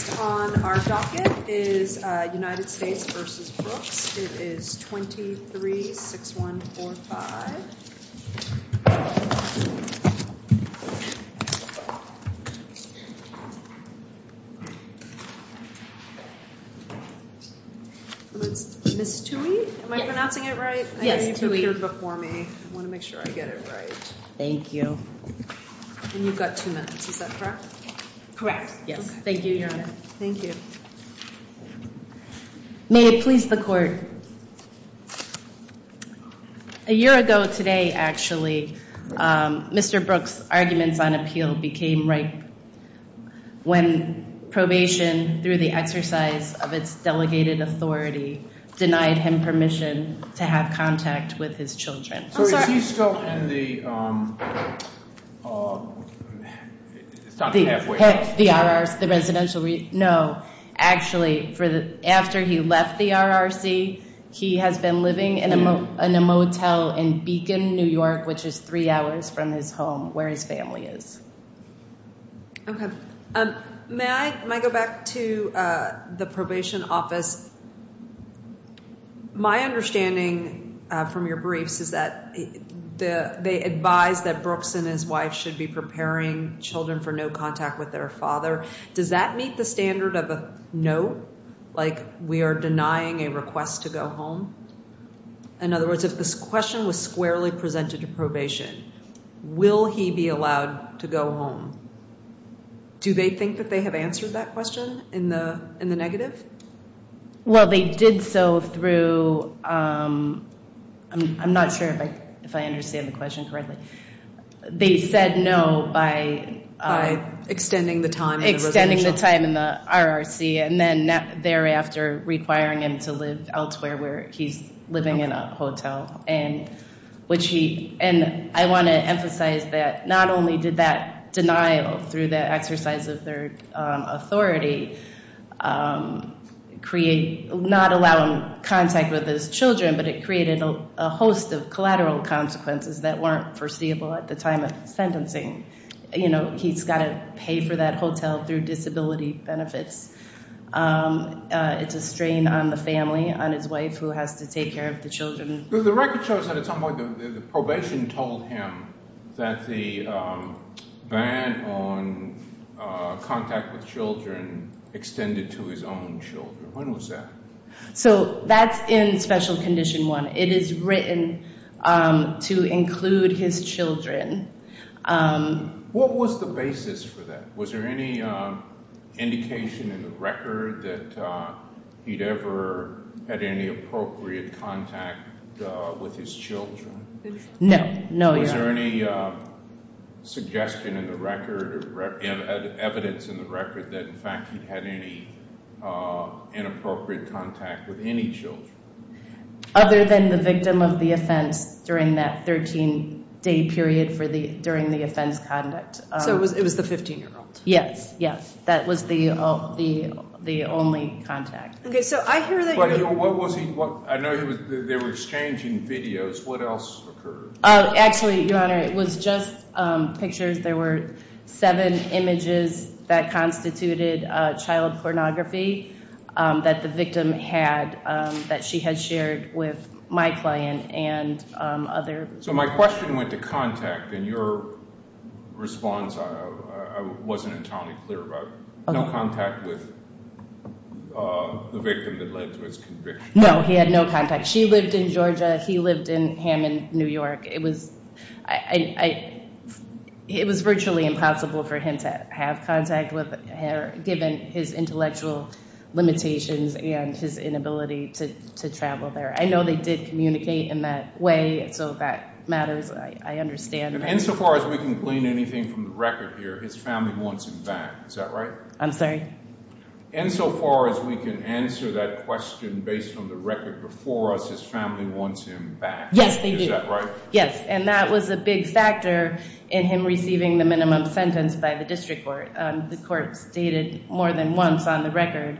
Next on our docket is United States v. Brooks, it is 23-6145, Ms. Thuy, am I pronouncing it right? Yes, Thuy. I know you've appeared before me. I want to make sure I get it right. Thank you. And you've got two minutes. Is that correct? Correct. Yes. Thank you, Your Honor. Thank you. May it please the Court, a year ago today, actually, Mr. Brooks' arguments on appeal became ripe when probation, through the exercise of its delegated authority, denied him permission to have contact with his children. I'm sorry. So is he still in the... It's not the halfway point. The RRC, the residential... No. Actually, after he left the RRC, he has been living in a motel in Beacon, New York, which is three hours from his home, where his family is. Okay. May I go back to the probation office? Because my understanding from your briefs is that they advise that Brooks and his wife should be preparing children for no contact with their father. Does that meet the standard of a no, like we are denying a request to go home? In other words, if this question was squarely presented to probation, will he be allowed to go home? Do they think that they have answered that question in the negative? Well, they did so through... I'm not sure if I understand the question correctly. They said no by... Extending the time in the residential... Extending the time in the RRC, and then thereafter, requiring him to live elsewhere, where he's living in a hotel. And I want to emphasize that not only did that denial through the exercise of their authority not allow him contact with his children, but it created a host of collateral consequences that weren't foreseeable at the time of sentencing. He's got to pay for that hotel through disability benefits. It's a strain on the family, on his wife, who has to take care of the children. The record shows that at some point the probation told him that the ban on contact with children extended to his own children. When was that? So that's in Special Condition 1. It is written to include his children. What was the basis for that? Was there any indication in the record that he'd ever had any appropriate contact with his children? No. No, Your Honor. Was there any suggestion in the record, evidence in the record, that in fact he'd had any inappropriate contact with any children? Other than the victim of the offense during that 13-day period during the offense conduct. So it was the 15-year-old? Yes. Yes. That was the only contact. Okay. So I hear that you... But what was he... I know they were exchanging videos. What else occurred? Actually, Your Honor, it was just pictures. There were seven images that constituted child pornography that the victim had, that she had shared with my client and other... So my question went to contact, and your response, I wasn't entirely clear about. No contact with the victim that led to his conviction? No, he had no contact. She lived in Georgia. He lived in Hammond, New York. It was virtually impossible for him to have contact with her, given his intellectual limitations and his inability to travel there. I know they did communicate in that way, so that matters. I understand. And insofar as we can glean anything from the record here, his family wants him back. Is that right? I'm sorry? Insofar as we can answer that question based on the record before us, his family wants him back. Yes, they do. Is that right? Yes. And that was a big factor in him receiving the minimum sentence by the district court. The court stated more than once on the record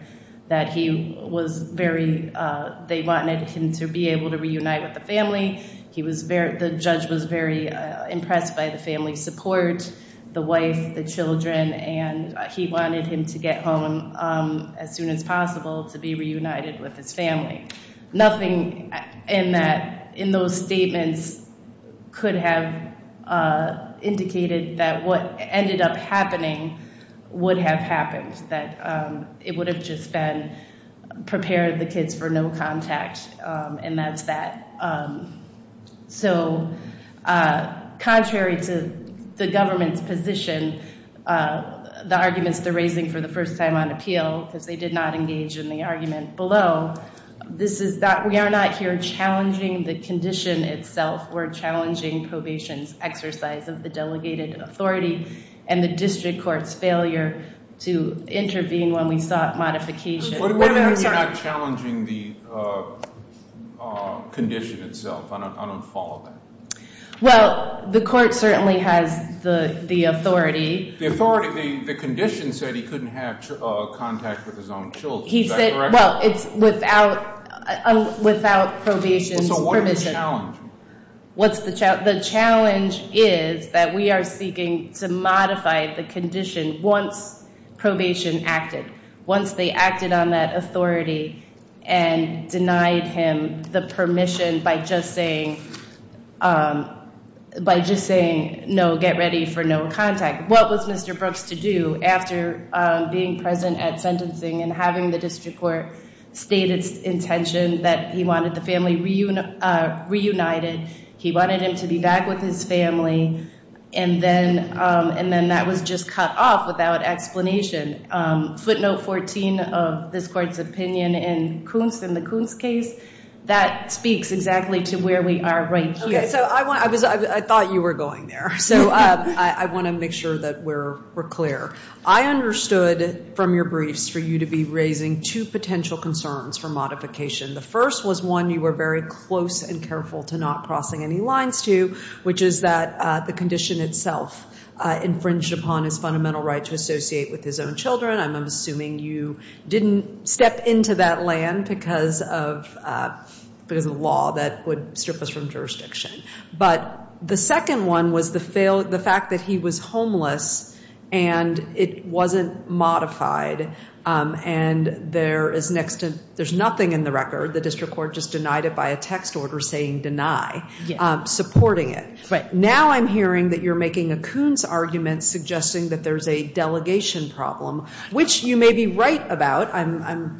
that he was very... They wanted him to be able to reunite with the family. The judge was very impressed by the family's support, the wife, the children, and he wanted him to get home as soon as possible to be reunited with his family. Nothing in those statements could have indicated that what ended up happening would have happened, that it would have just been prepare the kids for no contact, and that's that. So contrary to the government's position, the arguments they're raising for the first time on appeal, because they did not engage in the argument below, this is that we are not here challenging the condition itself. We're challenging probation's exercise of the delegated authority and the district court's failure to intervene when we sought modification. Wait a minute. I'm sorry. What do you mean you're not challenging the condition itself? I don't follow that. Well, the court certainly has the authority. The condition said he couldn't have contact with his own children. Is that correct? Well, it's without probation's permission. So what's the challenge? What's the challenge? The challenge is that we are seeking to modify the condition once probation acted, once they acted on that authority and denied him the permission by just saying, no, get ready for no contact. What was Mr. Brooks to do after being present at sentencing and having the district court state its intention that he wanted the family reunited? He wanted him to be back with his family, and then that was just cut off without explanation. Footnote 14 of this court's opinion in the Kuntz case, that speaks exactly to where we are right here. Okay. So I thought you were going there. So I want to make sure that we're clear. I understood from your briefs for you to be raising two potential concerns for modification. The first was one you were very close and careful to not crossing any lines to, which is that the condition itself infringed upon his fundamental right to associate with his own children. I'm assuming you didn't step into that land because of the law that would strip us from jurisdiction. But the second one was the fact that he was homeless and it wasn't modified, and there is nothing in the record. The district court just denied it by a text order saying deny, supporting it. Now I'm hearing that you're making a Kuntz argument suggesting that there's a delegation problem, which you may be right about. I'm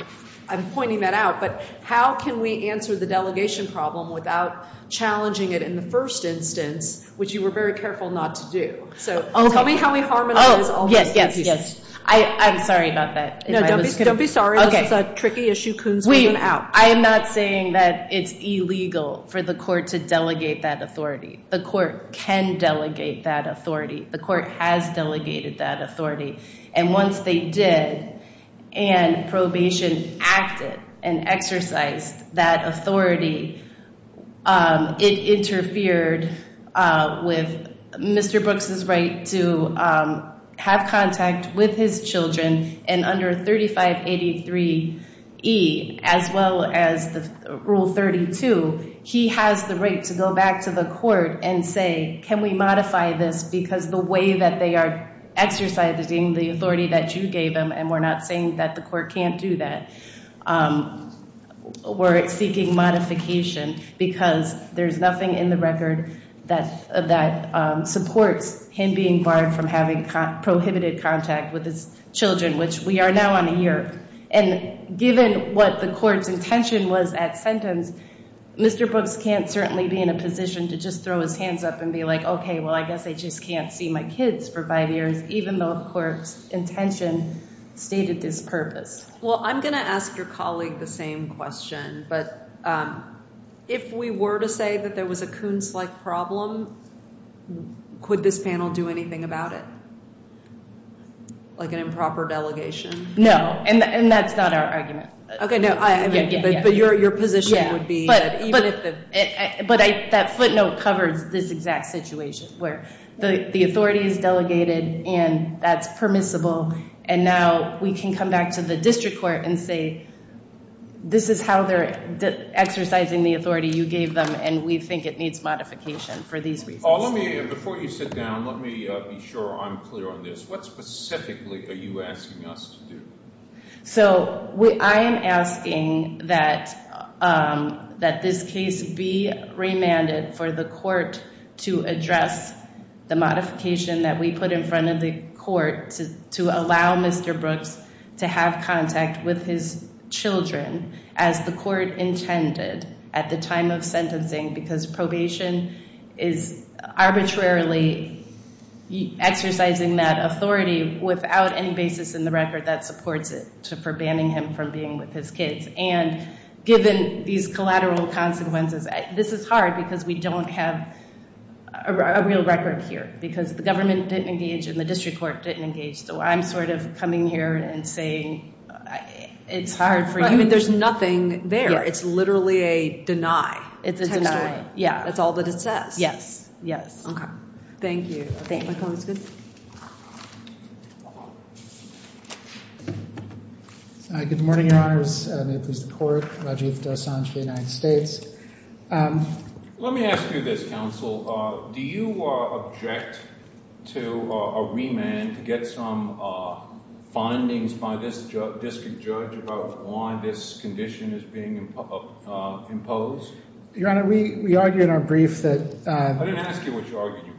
pointing that out. But how can we answer the delegation problem without challenging it in the first instance, which you were very careful not to do? So tell me how we harmonize all those two pieces. I'm sorry about that. Don't be sorry. This is a tricky issue. Kuntz made them out. Wait. I am not saying that it's illegal for the court to delegate that authority. The court can delegate that authority. The court has delegated that authority. And once they did and probation acted and exercised that authority, it interfered with Mr. Brooks' right to have contact with his children. And under 3583E, as well as Rule 32, he has the right to go back to the court and say, can we modify this? Because the way that they are exercising the authority that you gave them, and we're not saying that the court can't do that, we're seeking modification. Because there's nothing in the record that supports him being barred from having prohibited contact with his children, which we are now on a year. And given what the court's intention was at sentence, Mr. Brooks can't certainly be in a position to just throw his hands up and be like, OK, well, I guess I just can't see my kids for five years, even though the court's intention stated this purpose. Well, I'm going to ask your colleague the same question. But if we were to say that there was a Kuntz-like problem, could this panel do anything about it, like an improper delegation? No. And that's not our argument. OK. No. But your position would be that even if the- But that footnote covers this exact situation, where the authority is delegated, and that's permissible. And now we can come back to the district court and say, this is how they're exercising the authority you gave them, and we think it needs modification for these reasons. Paul, let me, before you sit down, let me be sure I'm clear on this. What specifically are you asking us to do? So I am asking that this case be remanded for the court to address the modification that we put in front of the court to allow Mr. Brooks to have contact with his children as the court intended at the time of sentencing, because probation is arbitrarily exercising that authority without any basis in the record that supports it for banning him from being with his kids. And given these collateral consequences, this is hard because we don't have a real record here, because the government didn't engage and the district court didn't engage. So I'm sort of coming here and saying it's hard for you- There's nothing there. It's literally a deny. It's a deny. Yeah. That's all that it says. Yes. Yes. Okay. Thank you. Good morning, Your Honor. This is the court, Rajiv Dosanjh, United States. Let me ask you this, counsel. Do you object to a remand to get some findings by this district judge about why this condition is being imposed? Your Honor, we argue in our brief that- I didn't ask you what you argued in your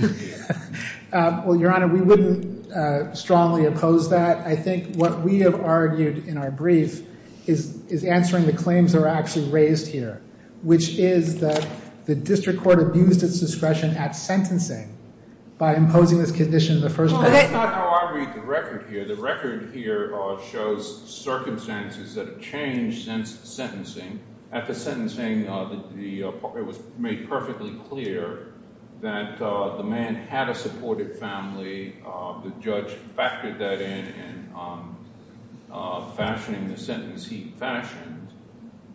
brief. Well, Your Honor, we wouldn't strongly oppose that. I think what we have argued in our brief is answering the claims that were actually raised here, which is that the district court abused its discretion at sentencing by imposing this condition in the first place. Well, that's not how I read the record here. The record here shows circumstances that have changed since sentencing. At the sentencing, it was made perfectly clear that the man had a supportive family. The judge factored that in, fashioning the sentence he fashioned.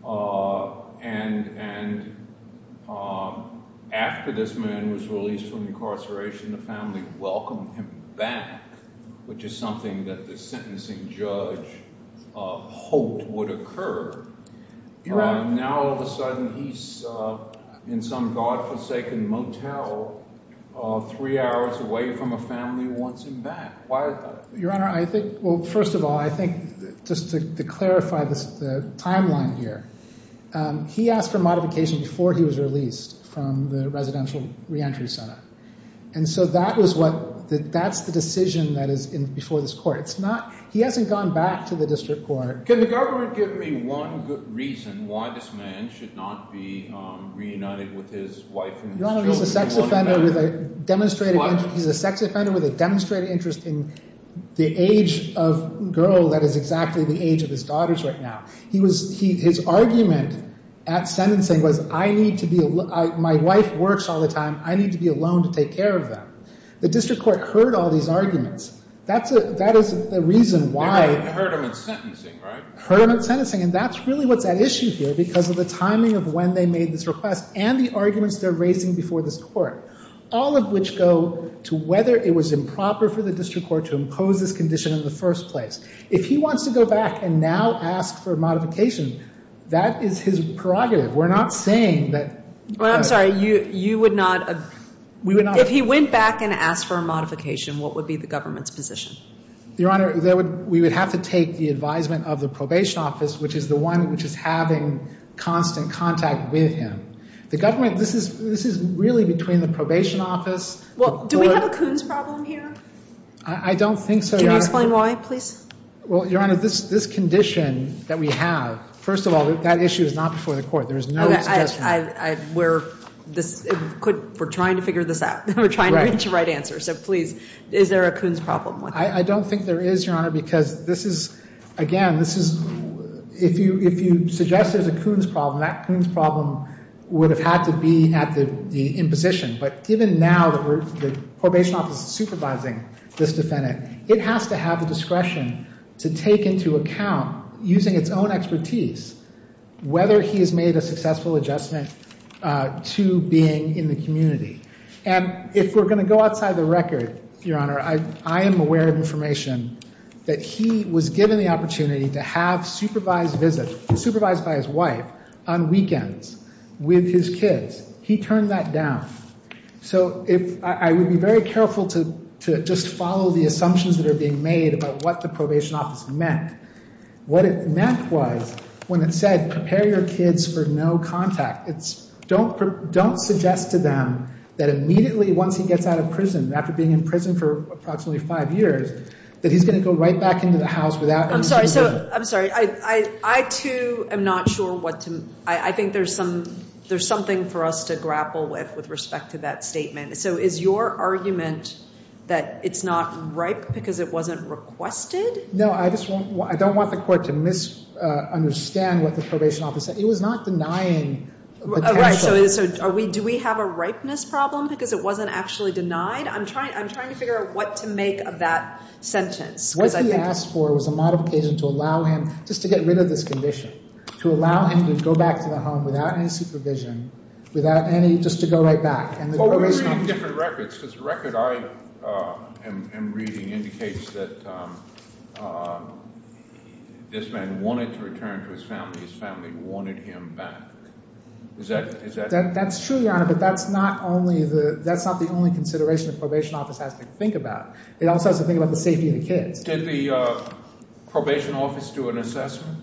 And after this man was released from incarceration, the family welcomed him back, which is something that the sentencing judge hoped would occur. Your Honor- Now, all of a sudden, he's in some godforsaken motel, three hours away from a family who wants him back. Why is that? Your Honor, I think- Well, first of all, I think just to clarify the timeline here, he asked for modification before he was released from the residential reentry center. And so that was what- that's the decision that is before this court. It's not- he hasn't gone back to the district court. Can the government give me one good reason why this man should not be reunited with his wife and his children- Your Honor, he's a sex offender with a demonstrated interest in the age of girl that is exactly the age of his daughters right now. His argument at sentencing was, I need to be- my wife works all the time. I need to be alone to take care of them. The district court heard all these arguments. That is the reason why- They heard him at sentencing, right? Heard him at sentencing. And that's really what's at issue here because of the timing of when they made this request and the arguments they're raising before this court. All of which go to whether it was improper for the district court to impose this condition in the first place. If he wants to go back and now ask for modification, that is his prerogative. We're not saying that- Well, I'm sorry. You would not- We would not- If he went back and asked for a modification, what would be the government's position? Your Honor, we would have to take the advisement of the probation office, which is the one which is having constant contact with him. The government- this is really between the probation office- Do we have a Coons problem here? I don't think so, Your Honor. Can you explain why, please? Well, Your Honor, this condition that we have, first of all, that issue is not before the court. There is no suggestion- We're trying to figure this out. We're trying to reach a right answer. So, please, is there a Coons problem? I don't think there is, Your Honor, because this is- Again, this is- If you suggest there's a Coons problem, that Coons problem would have had to be at the imposition. But given now that the probation office is supervising this defendant, it has to have the discretion to take into account, using its own expertise, whether he has made a successful adjustment to being in the community. And if we're going to go outside the record, Your Honor, I am aware of information that he was given the opportunity to have supervised visits, supervised by his wife, on weekends with his kids. He turned that down. So, I would be very careful to just follow the assumptions that are being made about what the probation office meant. What it meant was, when it said, prepare your kids for no contact, don't suggest to them that immediately, once he gets out of prison, after being in prison for approximately five years, that he's going to go right back into the house without- I'm sorry. I'm sorry. I, too, am not sure what to- I think there's something for us to grapple with, with respect to that statement. So, is your argument that it's not ripe because it wasn't requested? No. I don't want the court to misunderstand what the probation office said. It was not denying potential- Right. So, do we have a ripeness problem because it wasn't actually denied? I'm trying to figure out what to make of that sentence. What he asked for was a modification to allow him, just to get rid of this condition, to allow him to go back to the home without any supervision, without any- just to go right back. Well, we're reading different records, because the record I am reading indicates that this man wanted to return to his family. His family wanted him back. Is that- That's true, Your Honor, but that's not only the- that's not the only consideration the probation office has to think about. It also has to think about the safety of the kids. Did the probation office do an assessment?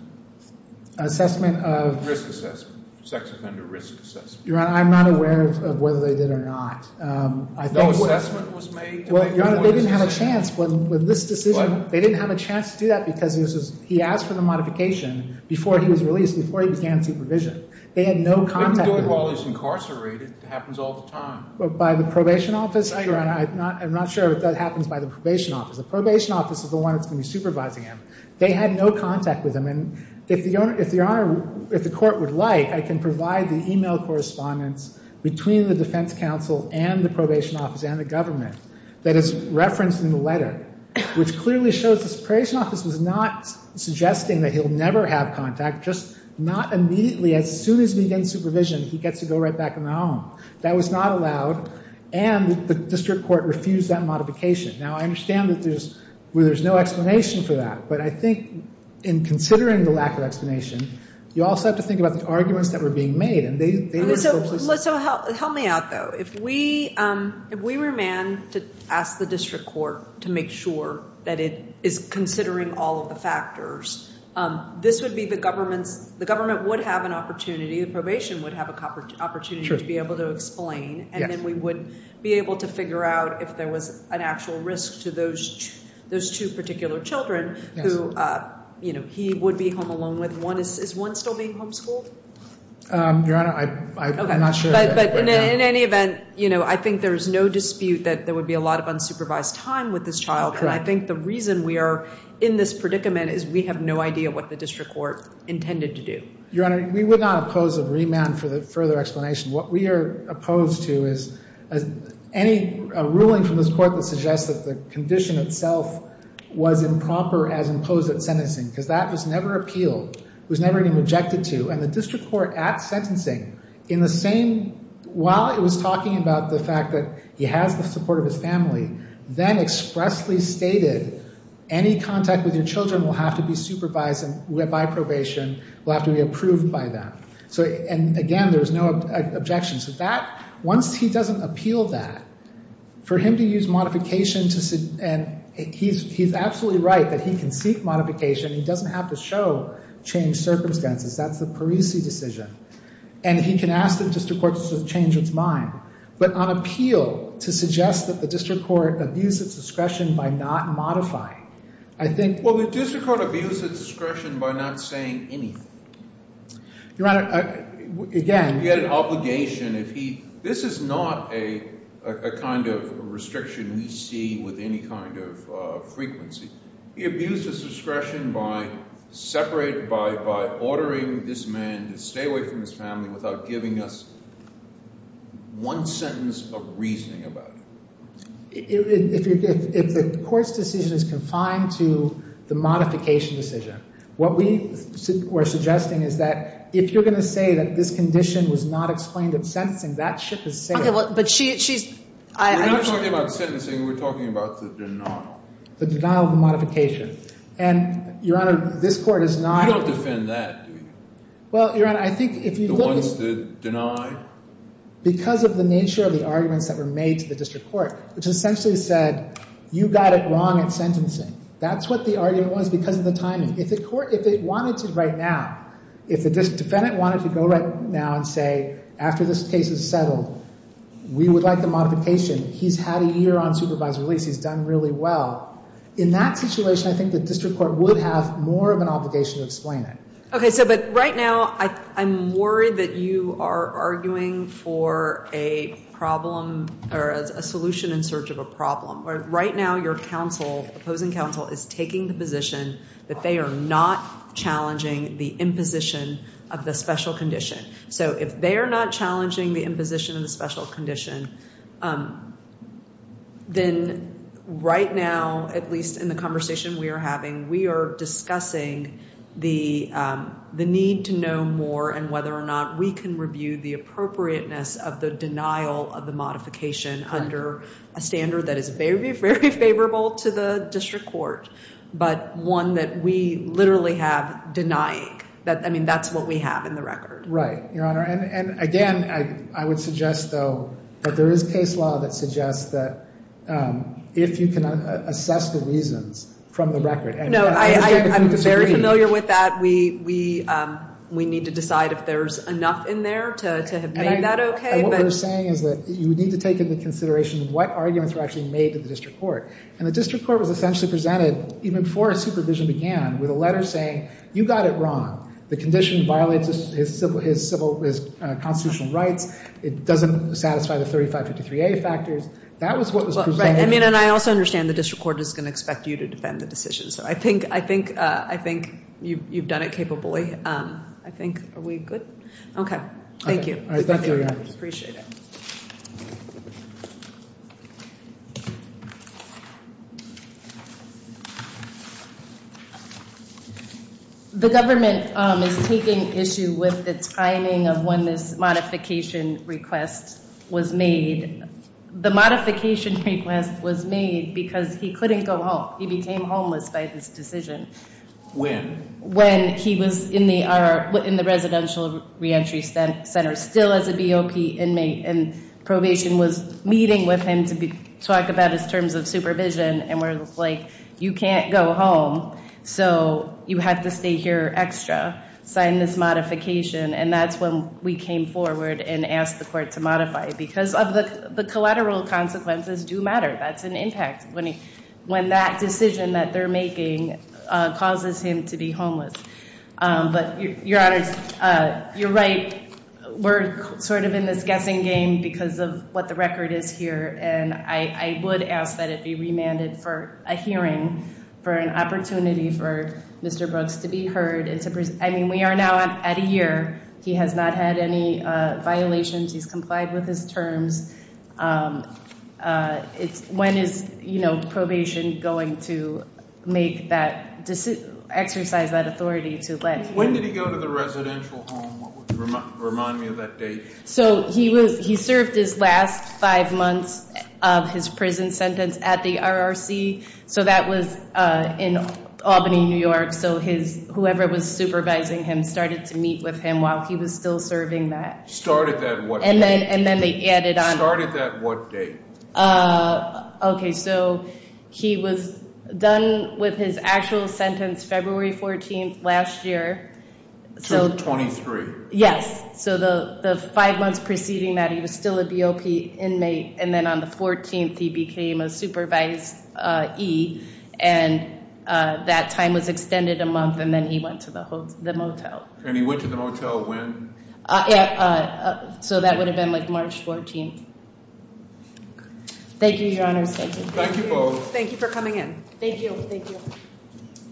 Assessment of- Risk assessment. Sex offender risk assessment. Your Honor, I'm not aware of whether they did or not. No assessment was made? Well, Your Honor, they didn't have a chance with this decision. They didn't have a chance to do that because he asked for the modification before he was released, before he began supervision. They had no contact with him. They do it while he's incarcerated. It happens all the time. By the probation office, Your Honor? I'm not sure if that happens by the probation office. The probation office is the one that's going to be supervising him. They had no contact with him, and if Your Honor- if the court would like, I can provide the email correspondence between the defense counsel and the probation office and the government that is referenced in the letter, which clearly shows the probation office was not allowed to have contact, just not immediately. As soon as he begins supervision, he gets to go right back in the home. That was not allowed, and the district court refused that modification. Now, I understand that there's no explanation for that, but I think in considering the lack of explanation, you also have to think about the arguments that were being made, and they were purposely- So help me out, though. If we were a man to ask the district court to make sure that it is considering all of the factors, this would be the government's- the government would have an opportunity, the probation would have an opportunity to be able to explain, and then we would be able to figure out if there was an actual risk to those two particular children who he would be home alone with. Is one still being homeschooled? Your Honor, I'm not sure of that right now. But in any event, I think there is no dispute that there would be a lot of unsupervised time with this child, and I think the reason we are in this predicament is we have no idea what the district court intended to do. Your Honor, we would not oppose a remand for the further explanation. What we are opposed to is any ruling from this court that suggests that the condition itself was improper as imposed at sentencing, because that was never appealed, was never even rejected to, and the district court at sentencing, in the same- while it was talking about the fact that he has the support of his family, then expressly stated, any contact with your children will have to be supervised by probation, will have to be approved by them. And again, there is no objection. Once he doesn't appeal that, for him to use modification to- he's absolutely right that he can seek modification, he doesn't have to show changed circumstances. That's the Parisi decision. And he can ask the district court to change its mind. But on appeal, to suggest that the district court abused its discretion by not modifying. I think- Well, the district court abused its discretion by not saying anything. Your Honor, again- He had an obligation if he- This is not a kind of restriction we see with any kind of frequency. He abused his discretion by separating by ordering this man to stay away from his family without giving us one sentence of reasoning about it. If the court's decision is confined to the modification decision, what we are suggesting is that if you're going to say that this condition was not explained in sentencing, that ship is sailing. But she's- We're not talking about sentencing, we're talking about the denial. The denial of the modification. And, Your Honor, this court is not- You don't defend that, do you? Well, Your Honor, I think- The ones that denied? Because of the nature of the arguments that were made to the district court, which essentially said, you got it wrong in sentencing. That's what the argument was because of the timing. If the court- If it wanted to right now- If the defendant wanted to go right now and say, after this case is settled, we would like the modification, he's had a year on supervised release, he's done really well. In that situation, I think the district court would have more of an obligation to explain it. Okay, so, but right now, I'm worried that you are arguing for a problem or a solution in search of a problem. Right now, your counsel, opposing counsel, is taking the position that they are not challenging the imposition of the special condition. So, if they are not challenging the imposition of the special condition, then right now, at least in the conversation we are having, we are discussing the need to know more and whether or not we can review the appropriateness of the denial of the modification under a standard that is very, very favorable to the district court, but one that we literally have denying. I mean, that's what we have in the record. Right, Your Honor. And again, I would suggest, though, that there is case law that suggests that if you can assess the reasons from the record- No, I'm very familiar with that. We need to decide if there is enough in there to have made that okay. And what we are saying is that you need to take into consideration what arguments were actually made to the district court. And the district court was essentially presented even before supervision began with a letter saying you got it wrong. The condition violates his constitutional rights. It doesn't satisfy the 3553A factors. That was what was presented. I mean, and I also understand the district court is going to expect you to defend the decision. So, I think you've done it capably. I think. Are we good? Okay. Thank you. Thank you, Your Honor. Appreciate it. The government is taking issue with the timing of when this modification request was made. The modification request was made because he couldn't go home. He became homeless by this decision. When? When he was in the residential re-entry center still as a BOP inmate and probation was meeting with him to talk about his terms of supervision and we're like, you can't go home. So, you have to stay here extra. Sign this modification. And that's when we came forward and asked the court to modify it. Because of the collateral consequences do matter. That's an impact. When that decision that they're making causes him to be homeless. Your Honor, you're right. We're sort of in this guessing game because of what the record is here. And I would ask that it be remanded for a hearing for an opportunity for Mr. Brooks to be heard. I mean, we are now at a year. He has not had any violations. He's complied with his terms. When is, you know, probation going to make that exercise that authority to let? When did he go to the residential home? Remind me of that date. So, he served his last five months of his prison sentence at the RRC. So, that was in Albany, New York. So, his, whoever was supervising him started to meet with him while he was still serving that. Started that what date? And then, they added on. Started that what date? Okay, so, he was done with his actual sentence February 14th last year. So, 23? Yes. So, the five months preceding that, he was still a BOP inmate. And then, on the 14th, he became a supervisee. And, that time was extended a month and then he went to the motel. And he went to the motel when? So, that would have been like March 14th. Thank you, your honors. Thank you. Thank you both. Thank you for coming in. Thank you.